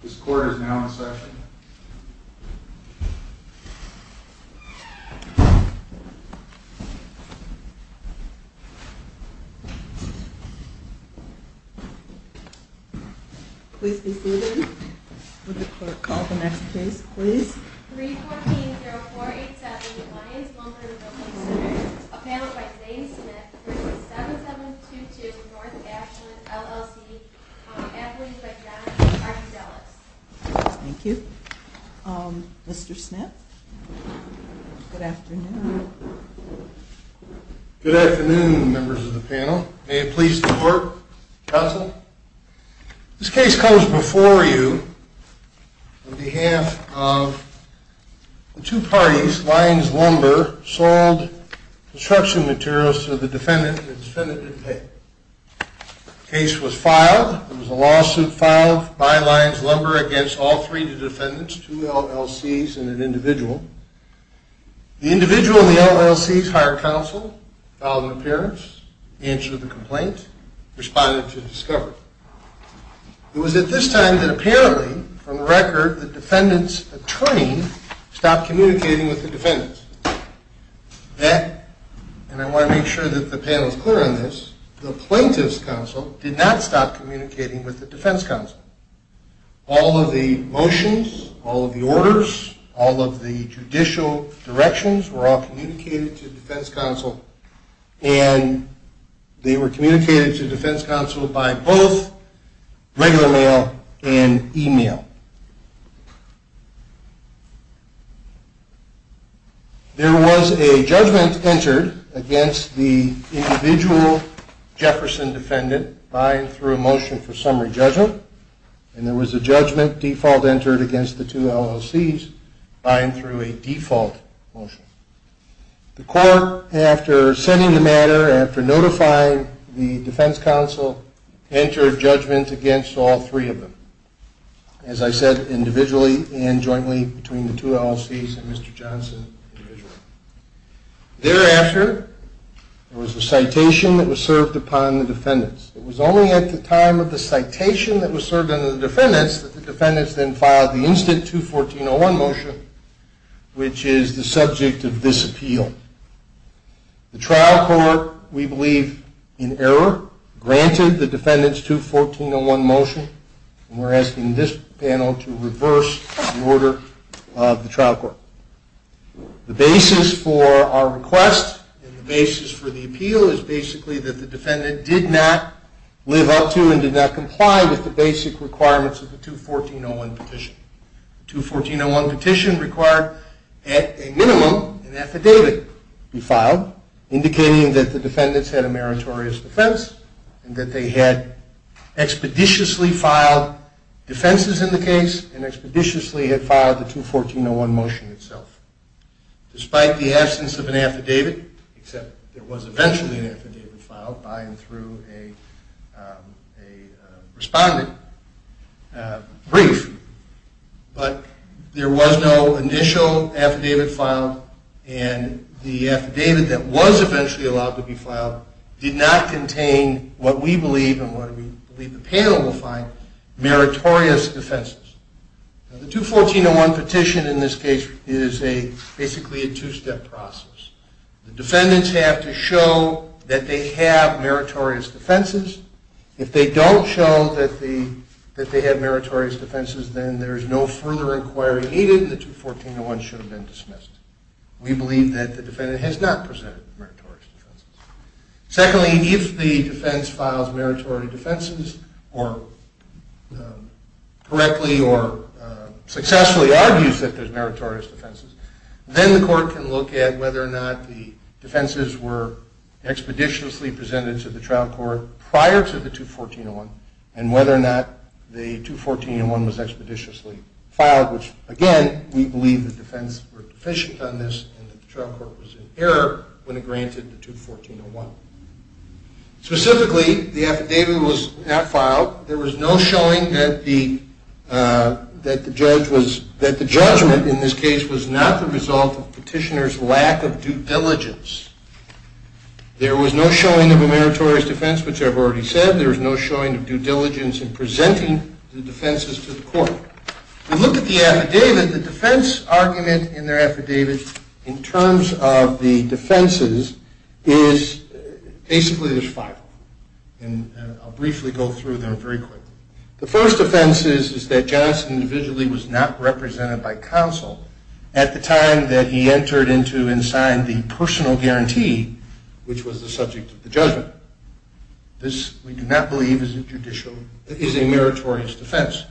This court is now in session. Please be seated. Would the clerk call the next case, please? 314-0487, Lyons-Wilburton Building Center, a panel by Zane Smith versus 7722 North Ashland, LLC, Everett, Manhattan, Arkansas. Thank you. Mr. Smith, good afternoon. Good afternoon, members of the panel. May it please the court, counsel. This case comes before you on behalf of the two parties, Lyons-Wilburton, sold construction materials to the defendant, and the defendant didn't pay. The case was filed. It was a lawsuit filed by Lyons-Wilburton against all three defendants, two LLCs and an individual. The individual in the LLCs hired counsel, filed an appearance, answered the complaint, responded to discovery. It was at this time that apparently, from the record, the defendant's attorney stopped communicating with the defendant. That, and I want to make sure that the panel is clear on this, the plaintiff's counsel did not stop communicating with the defense counsel. All of the motions, all of the orders, all of the judicial directions were all communicated to the defense counsel, and they were communicated to defense counsel by both regular mail and email. There was a judgment entered against the individual Jefferson defendant vying through a motion for summary judgment, and there was a judgment default entered against the two LLCs vying through a default motion. The court, after sending the matter, after notifying the defense counsel, entered judgment against all three of them. As I said, individually and jointly between the two LLCs and Mr. Johnson, individually. Thereafter, there was a citation that was served upon the defendants. It was only at the time of the citation that was served on the defendants that the defendants then filed the instant 214.01 motion, which is the subject of this appeal. The trial court, we believe, in error, granted the defendants 214.01 motion, and we're asking this panel to reverse the order of the trial court. The basis for our request and the basis for the appeal is basically that the defendant did not live up to and did not comply with the basic requirements of the 214.01 petition. 214.01 petition required, at a minimum, an affidavit be filed indicating that the defendants had a meritorious defense and that they had expeditiously filed defenses in the case and expeditiously had filed the 214.01 motion itself. Despite the absence of an affidavit, except there was eventually an affidavit filed by and through a respondent brief, but there was no initial affidavit filed, and the affidavit that was eventually allowed to be filed did not contain what we believe and what we believe the panel will find, meritorious defenses. The 214.01 petition, in this case, is basically a two-step process. The defendants have to show that they have meritorious defenses. If they don't show that they have meritorious defenses, then there is no further inquiry needed, and the 214.01 should have been dismissed. We believe that the defendant has not presented meritorious defenses. Secondly, if the defense files meritorious defenses or correctly or successfully argues that there's meritorious defenses, then the court can look at whether or not the defenses were expeditiously presented to the trial court prior to the 214.01 and whether or not the 214.01 was expeditiously filed, which, again, we believe the defense were deficient on this and the trial court was in error when it granted the 214.01. Specifically, the affidavit was not filed. There was no showing that the judgment in this case was not the result of petitioner's lack of due diligence. There was no showing of a meritorious defense, which I've already said. There was no showing of due diligence in presenting the defenses to the court. We look at the affidavit, the defense argument in their affidavit. In terms of the defenses, basically, there's five. And I'll briefly go through them very quickly. The first offense is that Johnson individually was not represented by counsel at the time that he entered into and signed the personal guarantee, which was the subject of the judgment. This, we do not believe, is a meritorious defense.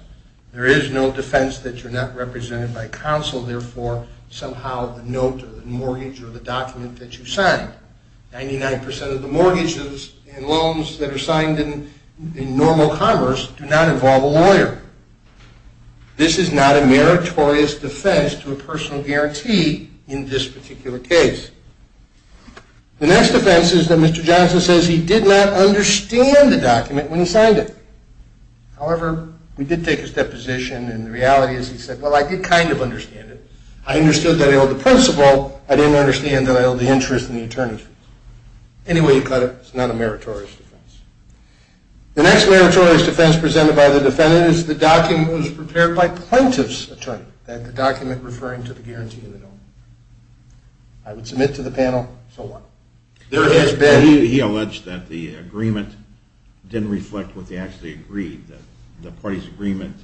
There is no defense that you're not represented by counsel. Therefore, somehow, the note or the mortgage or the document that you signed. 99% of the mortgages and loans that are signed in normal commerce do not involve a lawyer. This is not a meritorious defense to a personal guarantee in this particular case. The next offense is that Mr. Johnson says he did not understand the document when he signed it. However, we did take his deposition, and the reality is he said, well, I could kind of understand it. I understood that I owed the principal. I didn't understand that I owed the interest in the attorney's fees. Anyway, he cut it. It's not a meritorious defense. The next meritorious defense presented by the defendant is the document was prepared by plaintiff's attorney, that the document referring to the guarantee of the loan. I would submit to the panel, so what? There has been. He alleged that the agreement didn't reflect what they actually agreed. The party's agreement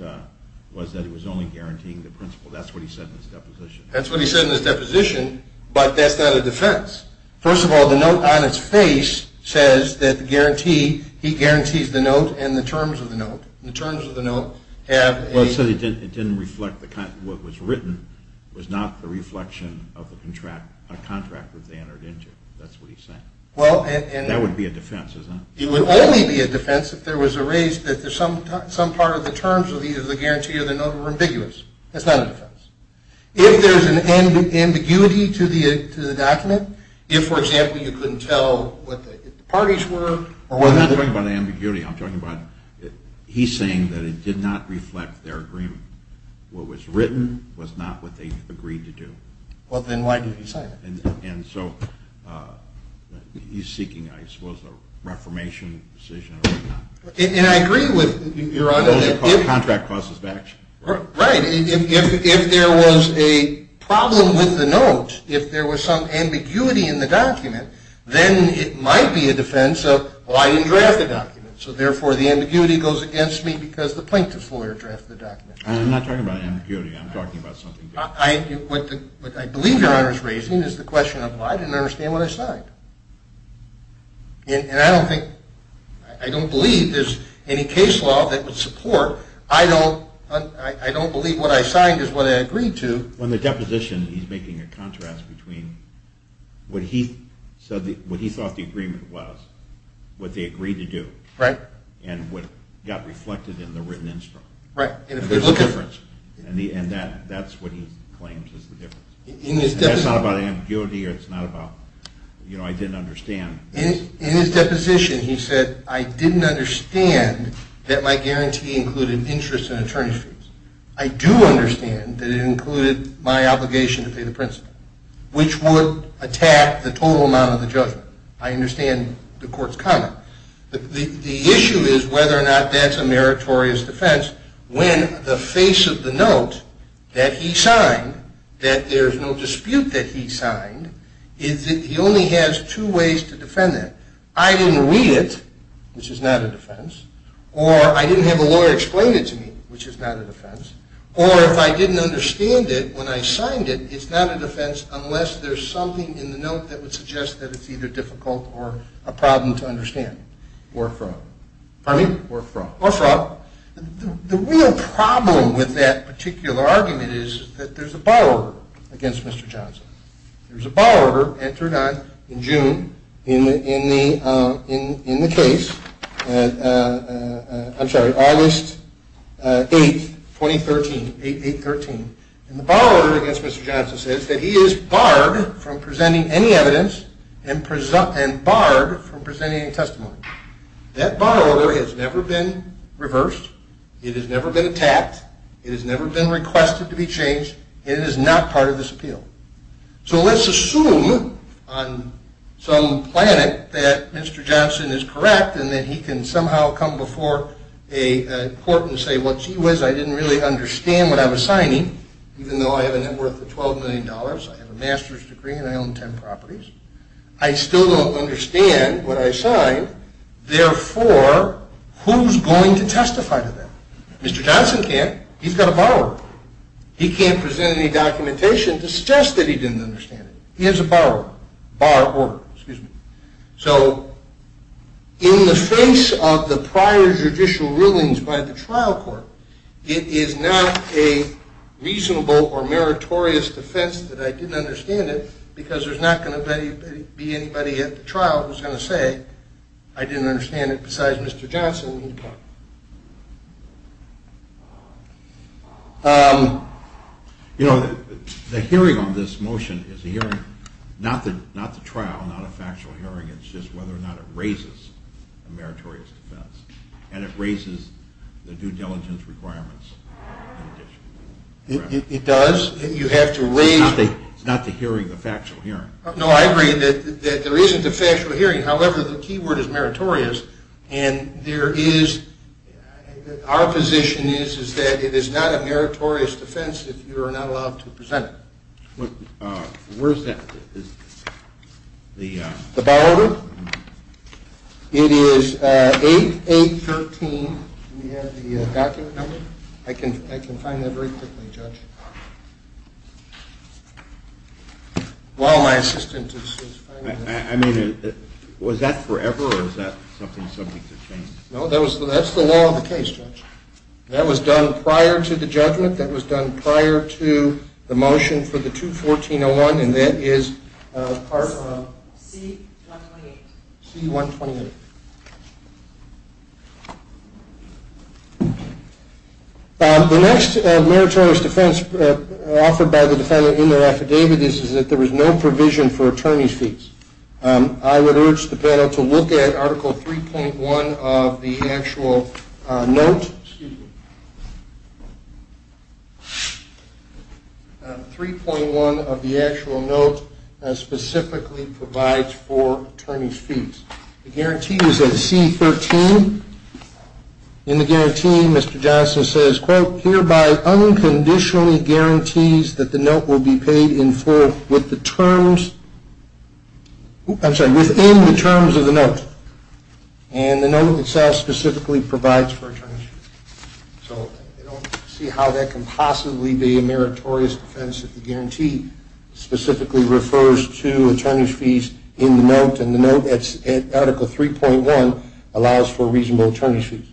was that it was only guaranteeing the principal. That's what he said in his deposition. That's what he said in his deposition, but that's not a defense. First of all, the note on its face says that the guarantee, he guarantees the note and the terms of the note. The terms of the note have a. Well, it said it didn't reflect what was written. It was not the reflection of a contract that they entered into. That's what he's saying. Well, and. That would be a defense, isn't it? It would only be a defense if there was a raise that there's some part of the terms of the guarantee of the note were ambiguous. That's not a defense. If there's an ambiguity to the document, if, for example, you couldn't tell what the parties were or what the. I'm not talking about ambiguity. I'm talking about he's saying that it did not reflect their agreement. What was written was not what they agreed to do. Well, then why did he sign it? And so he's seeking, I suppose, a reformation decision or whatnot. And I agree with your honor that if. Contract causes of action. Right, if there was a problem with the note, if there was some ambiguity in the document, then it might be a defense of, well, I didn't draft the document. So therefore, the ambiguity goes against me because the plaintiff's lawyer drafted the document. I'm not talking about ambiguity. I'm talking about something different. What I believe your honor is raising is the question of, well, I didn't understand what I signed. And I don't think, I don't believe there's any case law that would support, I don't believe what I signed is what I agreed to. On the deposition, he's making a contrast between what he thought the agreement was, what they agreed to do, and what got reflected in the written instrument. Right, and if there's a difference. And that's what he claims is the difference. And it's not about ambiguity, or it's not about, you know, I didn't understand. In his deposition, he said, I didn't understand that my guarantee included interest in attorney's fees. I do understand that it included my obligation to pay the principal, which would attack the total amount of the judgment. I understand the court's comment. The issue is whether or not that's a meritorious defense when the face of the note that he signed, that there's no dispute that he signed, is that he only has two ways to defend that. I didn't read it, which is not a defense. Or I didn't have a lawyer explain it to me, which is not a defense. Or if I didn't understand it when I signed it, it's not a defense unless there's something in the note that would suggest that it's either difficult or a problem to understand. Or from. Pardon me? Or from. Or from. The real problem with that particular argument is that there's a borrower against Mr. Johnson. There's a borrower entered in June in the case, I'm sorry, August 8, 2013, 8-8-13. And the borrower against Mr. Johnson says that he is barred from presenting any evidence and barred from presenting any testimony. That borrower has never been reversed. It has never been attacked. It has never been requested to be changed. It is not part of this appeal. So let's assume on some planet that Mr. Johnson is correct and that he can somehow come before a court and say, well, gee whiz, I didn't really understand what I was signing, even though I have a net worth of $12 million, I have a master's degree, and I own 10 properties. I still don't understand what I signed. Therefore, who's going to testify to that? Mr. Johnson can't. He's got a borrower. He can't present any documentation to suggest that he didn't understand it. He has a borrower. Bar or, excuse me. So in the face of the prior judicial rulings by the trial court, it is not a reasonable or meritorious defense that I didn't understand it, because there's not going to be anybody at the trial who's going to say I didn't understand it besides Mr. Johnson. You know, the hearing on this motion is a hearing, not the trial, not a factual hearing. It's just whether or not it raises a meritorious defense. And it raises the due diligence requirements in addition. It does. You have to raise the hearing. It's not the hearing, the factual hearing. No, I agree that there isn't a factual hearing. However, the key word is meritorious. And our position is that it is not a meritorious defense if you are not allowed to present it. Where is that? The borrower? It is 8-8-13. We have the document number. I can find that very quickly, Judge, while my assistant is finding it. Was that forever, or is that something subject to change? No, that's the law of the case, Judge. That was done prior to the judgment. That was done prior to the motion for the 214-01. And that is part of C-128. The next meritorious defense offered by the defendant in their affidavit is that there was no provision for attorney's fees. I would urge the panel to look at Article 3.1 of the actual note, specifically provides for attorney's fees. The guarantee is at C-13. In the guarantee, Mr. Johnson says, quote, hereby unconditionally guarantees that the note will be paid in full within the terms of the note. And the note itself specifically provides for attorney's fees. So I don't see how that can possibly be a meritorious offense if the guarantee specifically refers to attorney's fees in the note, and the note at Article 3.1 allows for reasonable attorney's fees.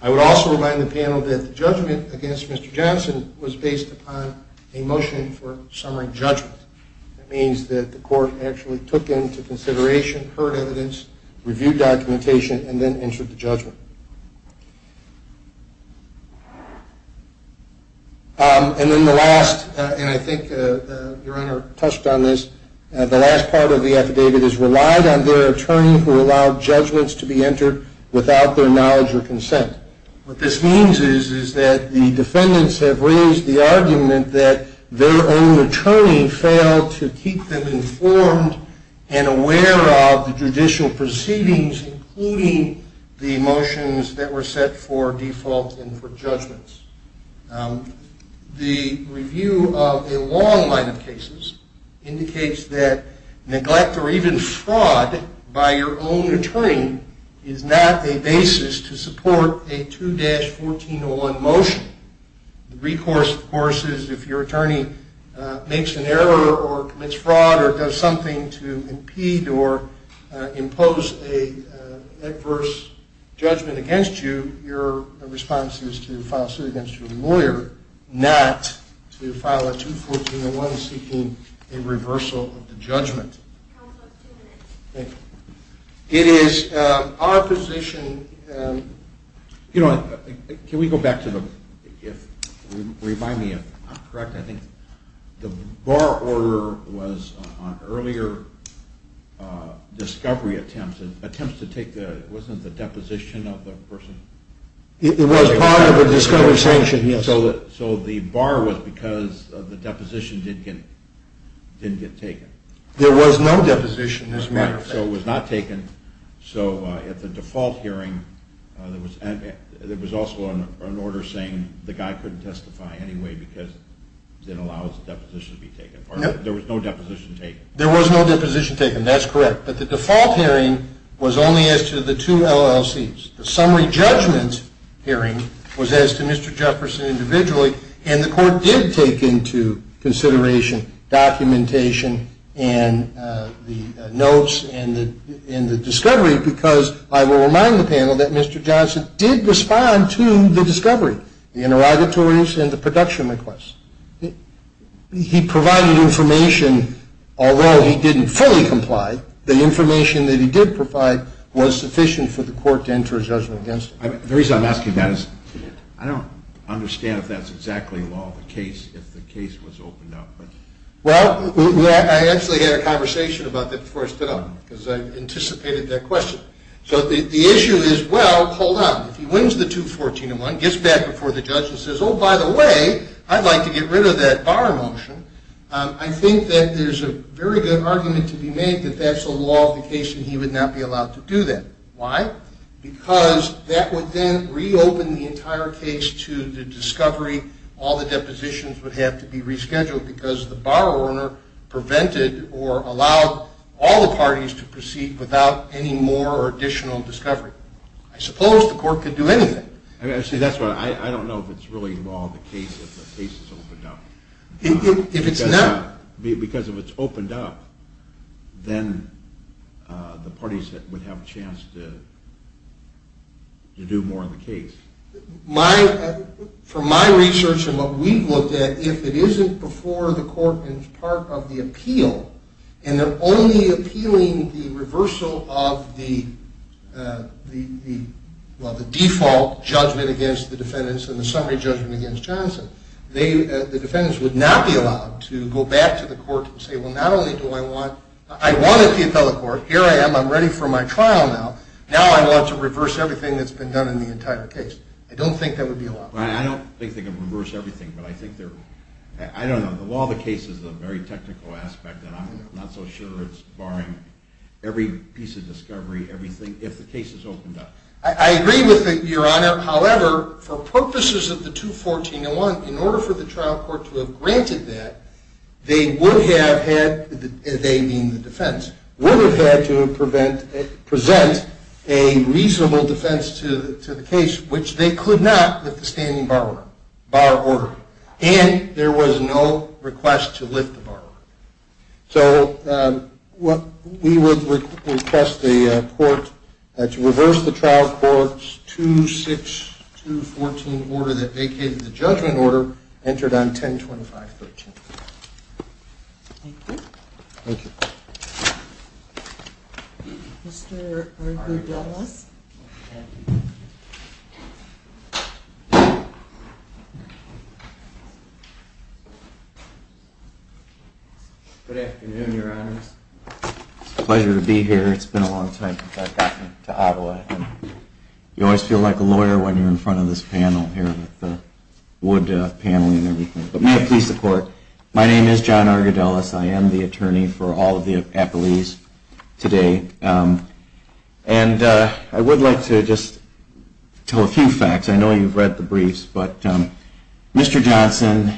I would also remind the panel that the judgment against Mr. Johnson was based upon a motion for summary judgment. That means that the court actually took into consideration, heard evidence, reviewed documentation, and then entered the judgment. And then the last, and I think Your Honor touched on this, the last part of the affidavit is relied on their attorney who allowed judgments to be entered without their knowledge or consent. What this means is that the defendants have raised the argument that their own attorney failed to keep them informed and aware of the judicial proceedings, including the motions that were set for default and for judgments. The review of a long line of cases indicates that neglect or even fraud by your own attorney is not a basis to support a 2-1401 motion. The recourse, of course, is if your attorney makes an error or commits fraud or does something to impede or impose an adverse judgment against you, your response is to file a suit against your lawyer, not to file a 2-1401 seeking a reversal of the judgment. It is our position, Your Honor, can we go back to the, if, remind me if I'm correct, I think the bar order was on earlier discovery attempts. Attempts to take the, wasn't it the deposition of the person? It was part of the discovery sanction, yes. So the bar was because the deposition didn't get taken. There was no deposition, as a matter of fact. So it was not taken. So at the default hearing, there was also an order saying the guy couldn't testify anyway because it didn't allow the deposition to be taken. There was no deposition taken. There was no deposition taken. That's correct. But the default hearing was only as to the two LLCs. The summary judgment hearing was as to Mr. Jefferson individually. And the court did take into consideration documentation and the notes and the discovery, because I will remind the panel that Mr. Johnson did respond to the discovery, the interrogatories and the production requests. He provided information. Although he didn't fully comply, the information that he did provide was sufficient for the court to enter a judgment against him. The reason I'm asking that is I don't understand if that's exactly law of the case if the case was opened up. Well, I actually had a conversation about that before I stood up, because I anticipated that question. So the issue is, well, hold on. If he wins the 214-1, gets back before the judge and says, oh, by the way, I'd like to get rid of that bar motion, I think that there's a very good argument to be made that that's the law of the case and he would not be allowed to do that. Why? Because that would then reopen the entire case to the discovery. All the depositions would have to be rescheduled, because the bar owner prevented or allowed all the parties to proceed without any more or additional discovery. I suppose the court could do anything. That's why I don't know if it's really law of the case if the case is opened up. If it's not. Because if it's opened up, then the parties would have a chance to do more in the case. From my research and what we've looked at, if it isn't before the court and it's part of the appeal, and they're only appealing the reversal of the default judgment against the defendants and the summary judgment against Johnson, the defendants would not be allowed to go back to the court and say, well, not only do I want the appellate court, here I am, I'm ready for my trial now, now I want to reverse everything that's been done in the entire case. I don't think that would be allowed. I don't think they can reverse everything, but I think they're, I don't know, the law of the case is a very technical aspect and I'm not so sure it's barring every piece of discovery, everything, if the case is opened up. I agree with you, Your Honor. However, for purposes of the 214-01, in order for the trial court to have granted that, they would have had, they mean the defense, would have had to present a reasonable defense to the case, which they could not with the standing bar order. And there was no request to lift the bar order. So we would request the court to reverse the trial court's 2-6-2-14 order that vacated the judgment order, entered on 10-25-13. Thank you. Thank you. Mr. Argyle-Delmas? Good afternoon, Your Honors. Pleasure to be here. It's been a long time since I've gotten to Ottawa. You always feel like a lawyer when you're in front of this panel here, the wood panel and everything. But may I please support? My name is John Argyle-Delmas. I am the attorney for all of the appellees today. And I would like to just tell a few facts. I know you've read the briefs, but Mr. Johnson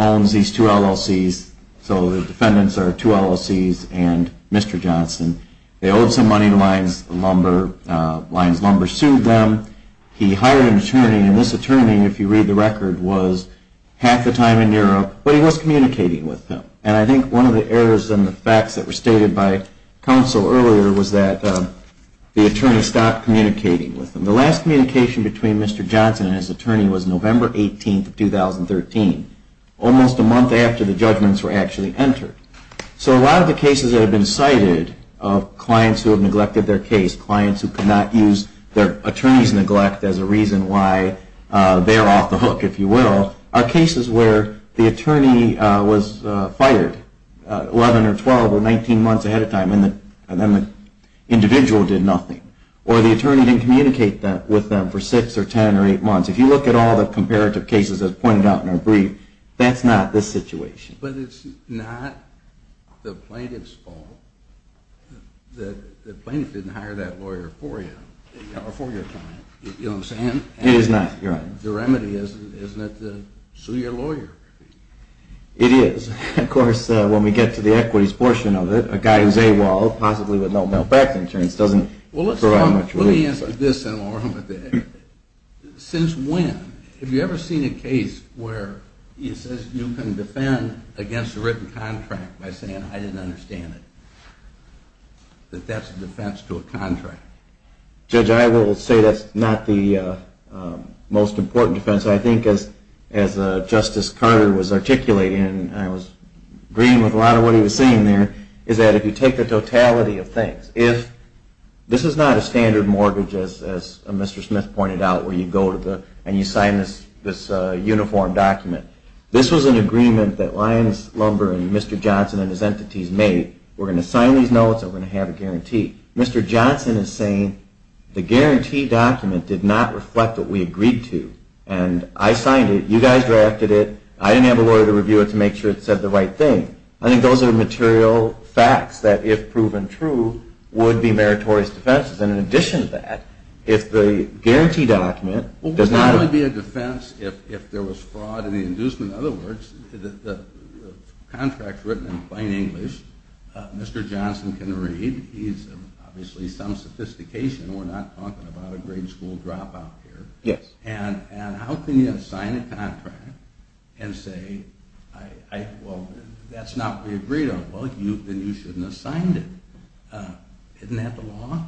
owns these two LLCs. So the defendants are two LLCs and Mr. Johnson. They owed some money to Lyons Lumber. Lyons Lumber sued them. He hired an attorney. And this attorney, if you read the record, was half the time in Europe, but he was communicating with them. And I think one of the errors in the facts that were stated by counsel earlier was that the attorney stopped communicating with them. The last communication between Mr. Johnson and his attorney was November 18, 2013, almost a month after the judgments were actually entered. So a lot of the cases that have been cited of clients who have neglected their case, clients who could not use their attorney's neglect as a reason why they're off the hook, if you will, are cases where the attorney was fired 11 or 12 or 19 months ahead of time, and then the individual did nothing. Or the attorney didn't communicate with them for 6 or 10 or 8 months. If you look at all the comparative cases as pointed out in our brief, that's not this situation. But it's not the plaintiff's fault that the plaintiff didn't hire that lawyer for you or for your client. You know what I'm saying? It is not, Your Honor. The remedy is not to sue your lawyer. It is. Of course, when we get to the equities portion of it, a guy who's AWOL, possibly with no medical insurance, doesn't provide much relief. Well, let me answer this, then, along with that. Since when have you ever seen a case where it says you can defend against a written contract by saying, I didn't understand it, that that's a defense to a contract? Judge, I will say that's not the most important defense. I think, as Justice Carter was articulating, and I was agreeing with a lot of what he was saying there, is that if you take the totality of things, if this is not a standard mortgage, as Mr. Smith pointed out, where you go and you sign this uniform document. This was an agreement that Lyons Lumber and Mr. Johnson and his entities made. We're going to sign these notes, and we're going to have a guarantee. Mr. Johnson is saying the guarantee document did not reflect what we agreed to. And I signed it. You guys drafted it. I didn't have a lawyer to review it to make sure it said the right thing. I think those are material facts that, if proven true, would be meritorious defenses. And in addition to that, if the guarantee document does not It would be a defense if there was fraud in the inducement. In other words, the contract's written in plain English. Mr. Johnson can read. He's obviously some sophistication. We're not talking about a grade school dropout here. And how can you sign a contract and say, well, that's not what we agreed on? Well, then you shouldn't have signed it. Isn't that the law?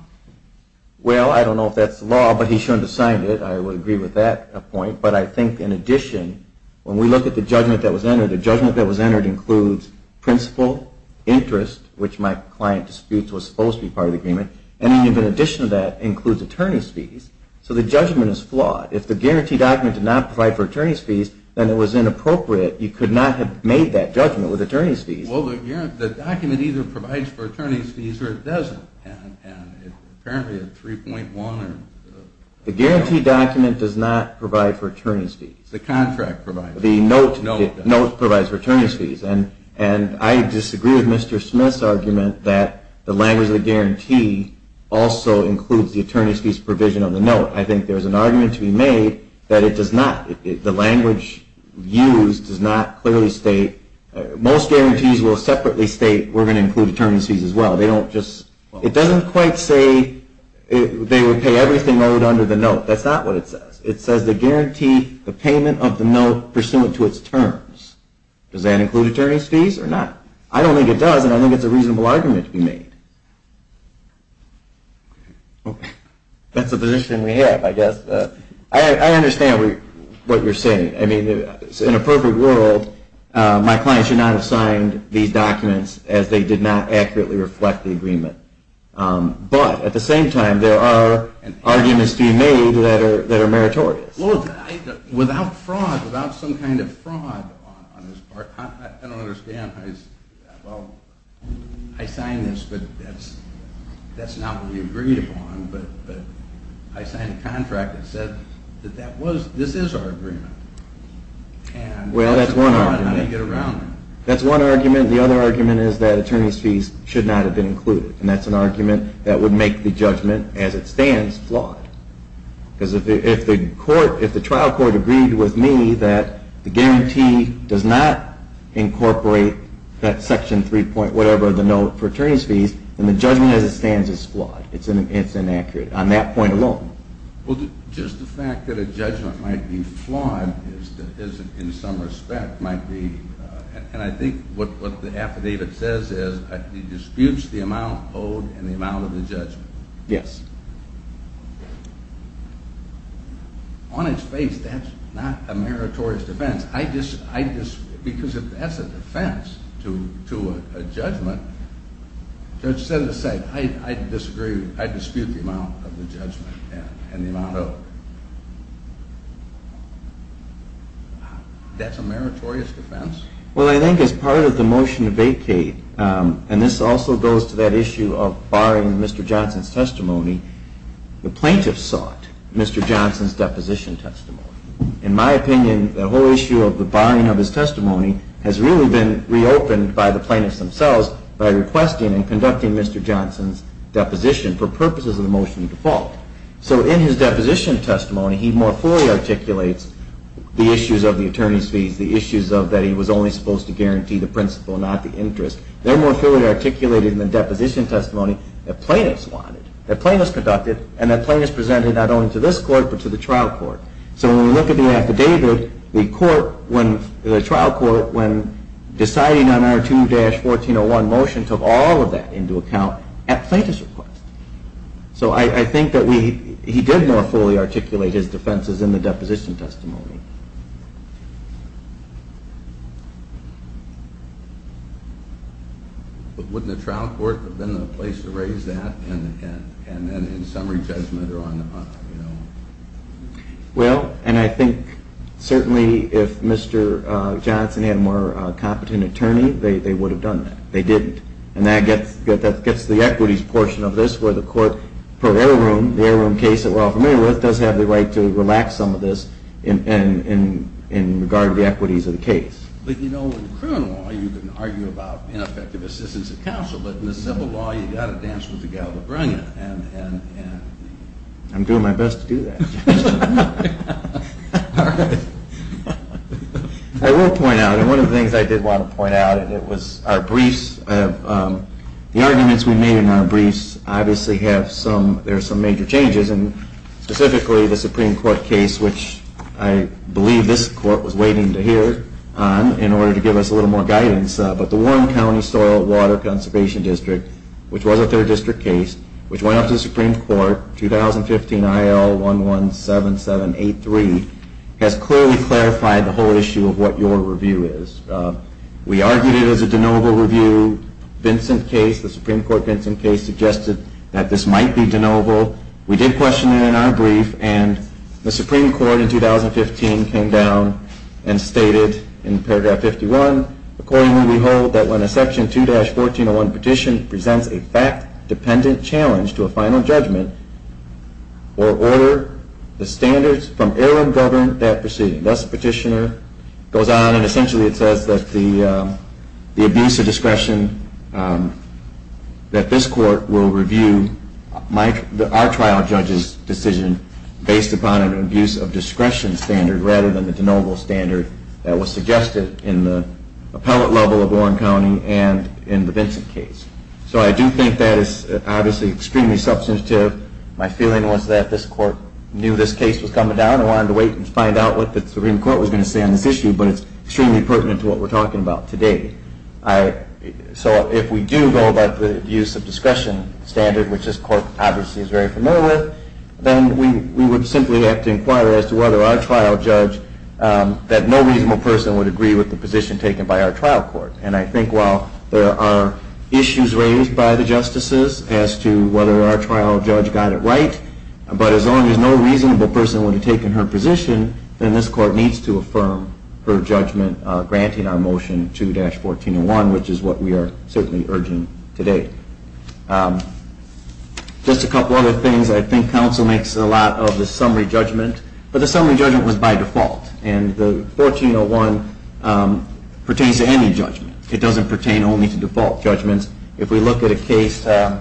Well, I don't know if that's the law, but he shouldn't have signed it. I would agree with that point. But I think, in addition, when we look at the judgment that was entered, the judgment that was entered includes principal interest, which my client disputes was supposed to be part of the agreement. And even in addition to that, includes attorney's fees. So the judgment is flawed. If the guarantee document did not provide for attorney's fees, then it was inappropriate. You could not have made that judgment with attorney's fees. Well, the document either provides for attorney's fees or it doesn't. And apparently a 3.1 or something. The guarantee document does not provide for attorney's fees. The contract provides. The note provides for attorney's fees. And I disagree with Mr. Smith's argument that the language of the guarantee also includes the attorney's fees provision on the note. I think there is an argument to be made that it does not. The language used does not clearly state. Most guarantees will separately state we're going to include attorney's fees as well. They don't just, it doesn't quite say they would pay everything owed under the note. That's not what it says. It says the guarantee, the payment of the note pursuant to its terms. Does that include attorney's fees or not? I don't think it does. And I think it's a reasonable argument to be made. That's a position we have, I guess. I understand what you're saying. I mean, in a perfect world, my client should not have signed these documents as they did not accurately reflect the agreement. But at the same time, there are arguments to be made that are meritorious. Without fraud, without some kind of fraud on his part, I don't understand how he's, well, I signed this, but that's not what we agreed upon. But I signed a contract that said that this is our agreement. Well, that's one argument. That's one argument. The other argument is that attorney's fees should not have been included. And that's an argument that would make the judgment, as it stands, flawed. Because if the trial court agreed with me that the guarantee does not incorporate that section 3 point whatever, the note for attorney's fees, then the judgment as it stands is flawed. It's inaccurate on that point alone. Well, just the fact that a judgment might be flawed in some respect might be. And I think what the affidavit says is he disputes the amount owed and the amount of the judgment. Yes. On its face, that's not a meritorious defense. Because if that's a defense to a judgment, Judge Senate said, I disagree. I dispute the amount of the judgment and the amount owed. That's a meritorious defense? Well, I think as part of the motion to vacate, and this also goes to that issue of barring Mr. Johnson's testimony, the plaintiffs sought Mr. Johnson's deposition testimony. In my opinion, the whole issue of the barring of his testimony has really been reopened by the plaintiffs themselves by requesting and conducting Mr. Johnson's deposition for purposes of the motion to default. So in his deposition testimony, he more fully articulates the issues of the attorney's fees, the issues of that he was only supposed to guarantee the principal, not the interest. They're more fully articulated in the deposition testimony that plaintiffs wanted, that plaintiffs conducted, and that plaintiffs presented not only to this court, but to the trial court. So when we look at the affidavit, the trial court, when deciding on our 2-1401 motion, took all of that into account at plaintiff's request. So I think that he did more fully articulate his defenses in the deposition testimony. But wouldn't the trial court have been the place to raise that, and then in summary judgment are on the hunt? Well, and I think certainly if Mr. Johnson had a more competent attorney, they would have done that. They didn't. And that gets to the equities portion of this, where the court, per heirloom, the heirloom case that we're all familiar with, does have the right to relax some of this in regard to the equities of the case. But you know, in criminal law, you can argue about ineffective assistance of counsel. But in the civil law, you've got to dance with the gal to bring it. And I'm doing my best to do that. All right. I will point out, and one of the things I did want to point out, and it was our briefs. The arguments we made in our briefs obviously have some, there are some major changes. And specifically, the Supreme Court case, which I believe this court was waiting to hear on in order to give us a little more guidance. But the Warren County Soil and Water Conservation District, which was a third district case, which went up to the Supreme Court, 2015 IL 117783, has clearly clarified the whole issue of what your review is. We argued it as a de novo review. Vincent case, the Supreme Court Vincent case, suggested that this might be de novo. We did question it in our brief. And the Supreme Court in 2015 came down and stated, in paragraph 51, according to the whole, that when a section 2-1401 petition presents a fact-dependent challenge to a final judgment, or order the standards from heirloom governed that proceeding. Thus, the petitioner goes on and essentially it says that the abuse of discretion, that this court will review our trial judge's decision based upon an abuse of discretion standard rather than the de novo standard that was suggested in the appellate level of Warren County and in the Vincent case. So I do think that is obviously extremely substantive. My feeling was that this court knew this case was coming down. I wanted to wait and find out what the Supreme Court was going to say on this issue. But it's extremely pertinent to what we're talking about today. So if we do go about the abuse of discretion standard, which this court obviously is very familiar with, then we would simply have to inquire as to whether our trial judge, that no reasonable person would agree with the position taken by our trial court. And I think while there are issues raised by the justices as to whether our trial judge got it right, but as long as no reasonable person would have taken her position, then this court needs to affirm her judgment granting our motion 2-1401, which is what we are certainly urging today. Just a couple other things. I think counsel makes a lot of the summary judgment. But the summary judgment was by default. And the 1401 pertains to any judgment. It doesn't pertain only to default judgments. If we look at a case, the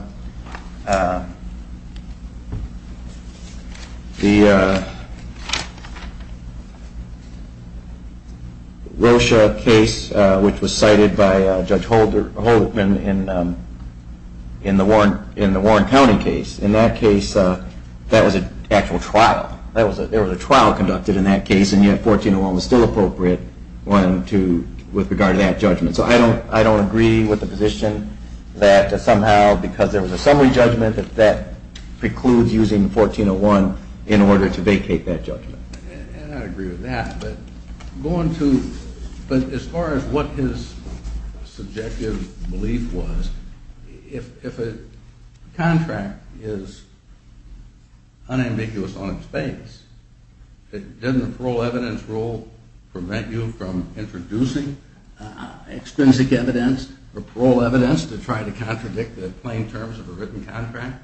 Rocha case, which was cited by Judge Holderman in the Warren County case, in that case, that was an actual trial. There was a trial conducted in that case. And yet, 1401 was still appropriate with regard to that judgment. So I don't agree with the position that somehow because there was a summary judgment that precludes using 1401 in order to vacate that judgment. And I agree with that. But as far as what his subjective belief was, if a contract is unambiguous on its base, didn't the parole evidence rule prevent you from introducing extrinsic evidence or parole evidence to try to contradict the plain terms of a written contract?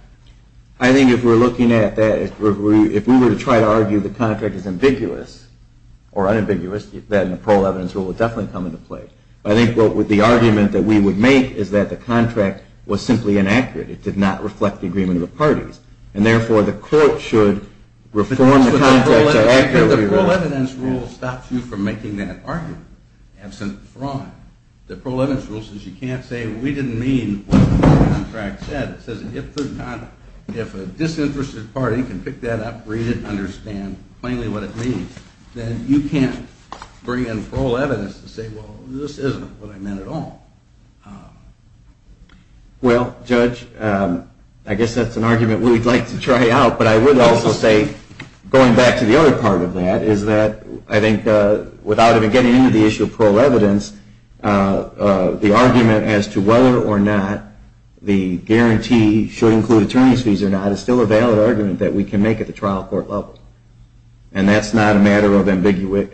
I think if we're looking at that, if we were to try to argue the contract is ambiguous or unambiguous, then the parole evidence rule would definitely come into play. I think the argument that we would make is that the contract was simply inaccurate. It did not reflect the agreement of the parties. And therefore, the court should reform the contract to accurately write it. The parole evidence rule stops you from making that argument, absent the fraud. The parole evidence rule says you can't say, we didn't mean what the contract said. It says, if a disinterested party can pick that up, read it, understand plainly what it means, then you can't bring in parole evidence to say, well, this isn't what I meant at all. Well, Judge, I guess that's an argument we'd like to try out. But I would also say, going back to the other part of that, is that I think without even getting into the issue of parole evidence, the argument as to whether or not the guarantee should include attorney's fees or not is still a valid argument that we can make at the trial court level. And that's not a matter of ambiguity.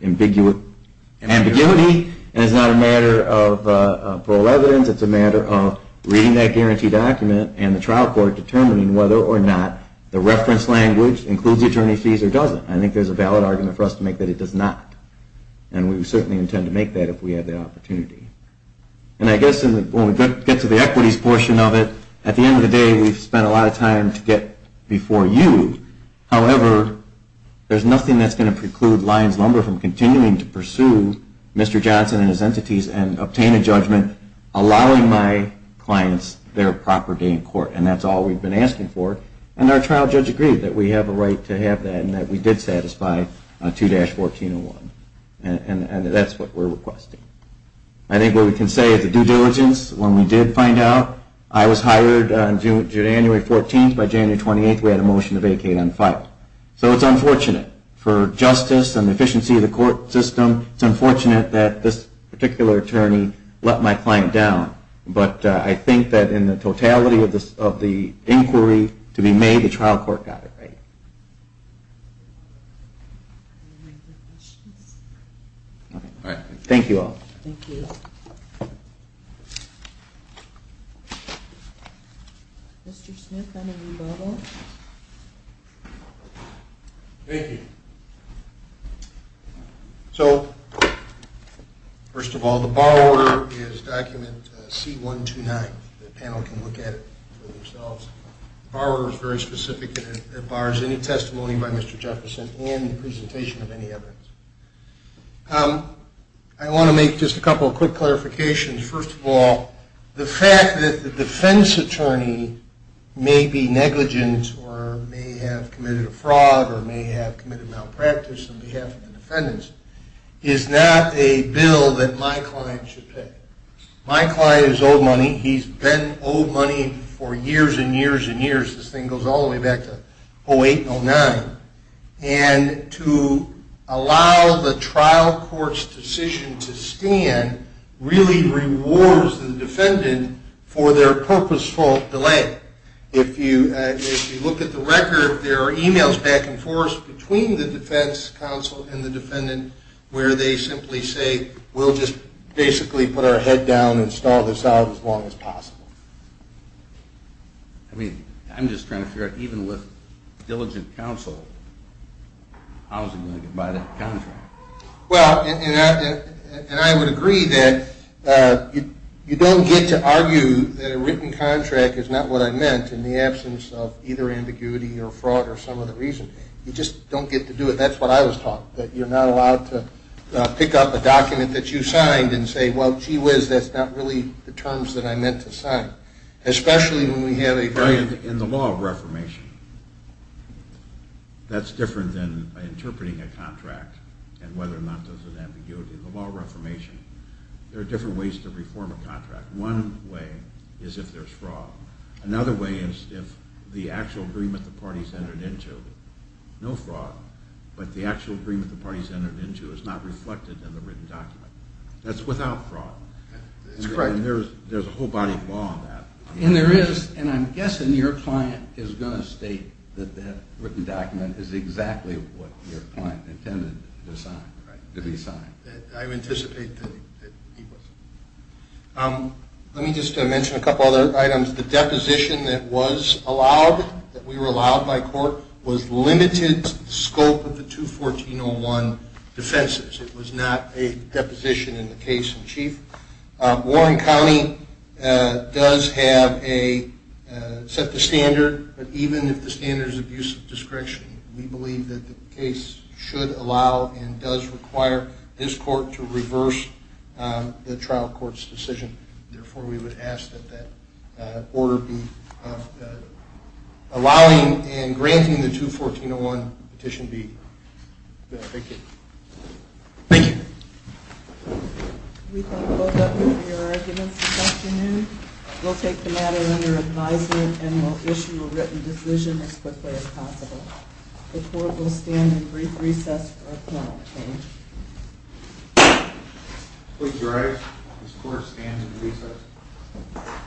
And it's not a matter of parole evidence. It's a matter of reading that guarantee document and the trial court determining whether or not the reference language includes attorney's fees or doesn't. I think there's a valid argument for us to make that it does not. And we certainly intend to make that if we have the opportunity. And I guess when we get to the equities portion of it, at the end of the day, we've spent a lot of time to get before you. However, there's nothing that's going to preclude Lyons-Lumber from continuing to pursue Mr. Johnson and his entities and obtain a judgment, allowing my clients their proper day in court. And that's all we've been asking for. And our trial judge agreed that we have a right to have that, and that we did satisfy 2-1401. And that's what we're requesting. I think what we can say is the due diligence, when we did find out, I was hired on January 14th. By January 28th, we had a motion to vacate on 5th. So it's unfortunate for justice and the efficiency of the court system. It's unfortunate that this particular attorney let my client down. But I think that in the totality of the inquiry to be made, the trial court got it right. Thank you all. Thank you. Thank you. Mr. Smith, I'm going to read all of them. Thank you. So first of all, the borrower is document C-129. The panel can look at it for themselves. The borrower is very specific, and it bars any testimony by Mr. Jefferson and the presentation of any evidence. I want to make just a couple of quick clarifications. First of all, the fact that the defense attorney may be negligent or may have committed a fraud or may have committed malpractice on behalf of the defendants is not a bill that my client should pay. My client is owed money. He's been owed money for years and years and years. This thing goes all the way back to 08 and 09. And to allow the trial court's decision to stand really rewards the defendant for their purposeful delay. If you look at the record, there are emails back and forth between the defense counsel and the defendant where they simply say, we'll just basically put our head down and stall this out as long as possible. I mean, I'm just trying to figure out, even with diligent counsel, how is he going to get by that contract? Well, and I would agree that you don't get to argue that a written contract is not what I meant in the absence of either ambiguity or fraud or some other reason. You just don't get to do it. That's what I was taught, that you're not allowed to pick up a document that you signed and say, well, gee whiz, that's not really the terms that I meant to sign, especially when we have a very In the law of reformation, that's different than interpreting a contract and whether or not there's an ambiguity. In the law of reformation, there are different ways to reform a contract. One way is if there's fraud. Another way is if the actual agreement the party's entered into, no fraud, but the actual agreement the party's entered into is not reflected in the written document. That's without fraud. That's correct. There's a whole body of law on that. And there is. And I'm guessing your client is going to state that that written document is exactly what your client intended to sign, to be signed. I anticipate that he was. Let me just mention a couple other items. The deposition that was allowed, that we were allowed by court, was limited to the scope of the 214.01 defenses. It was not a deposition in the case in chief. Warren County does have a set the standard, but even if the standard is abuse of discretion, we believe that the case should allow and does require this court to reverse the trial court's decision. Therefore, we would ask that that order be allowing and granting the 214.01 petition be benefited. Thank you. We can close up your arguments this afternoon. We'll take the matter under advisement and we'll issue a written decision as quickly as possible. The court will stand and brief recess for a point of change. Please rise. This court stands in recess.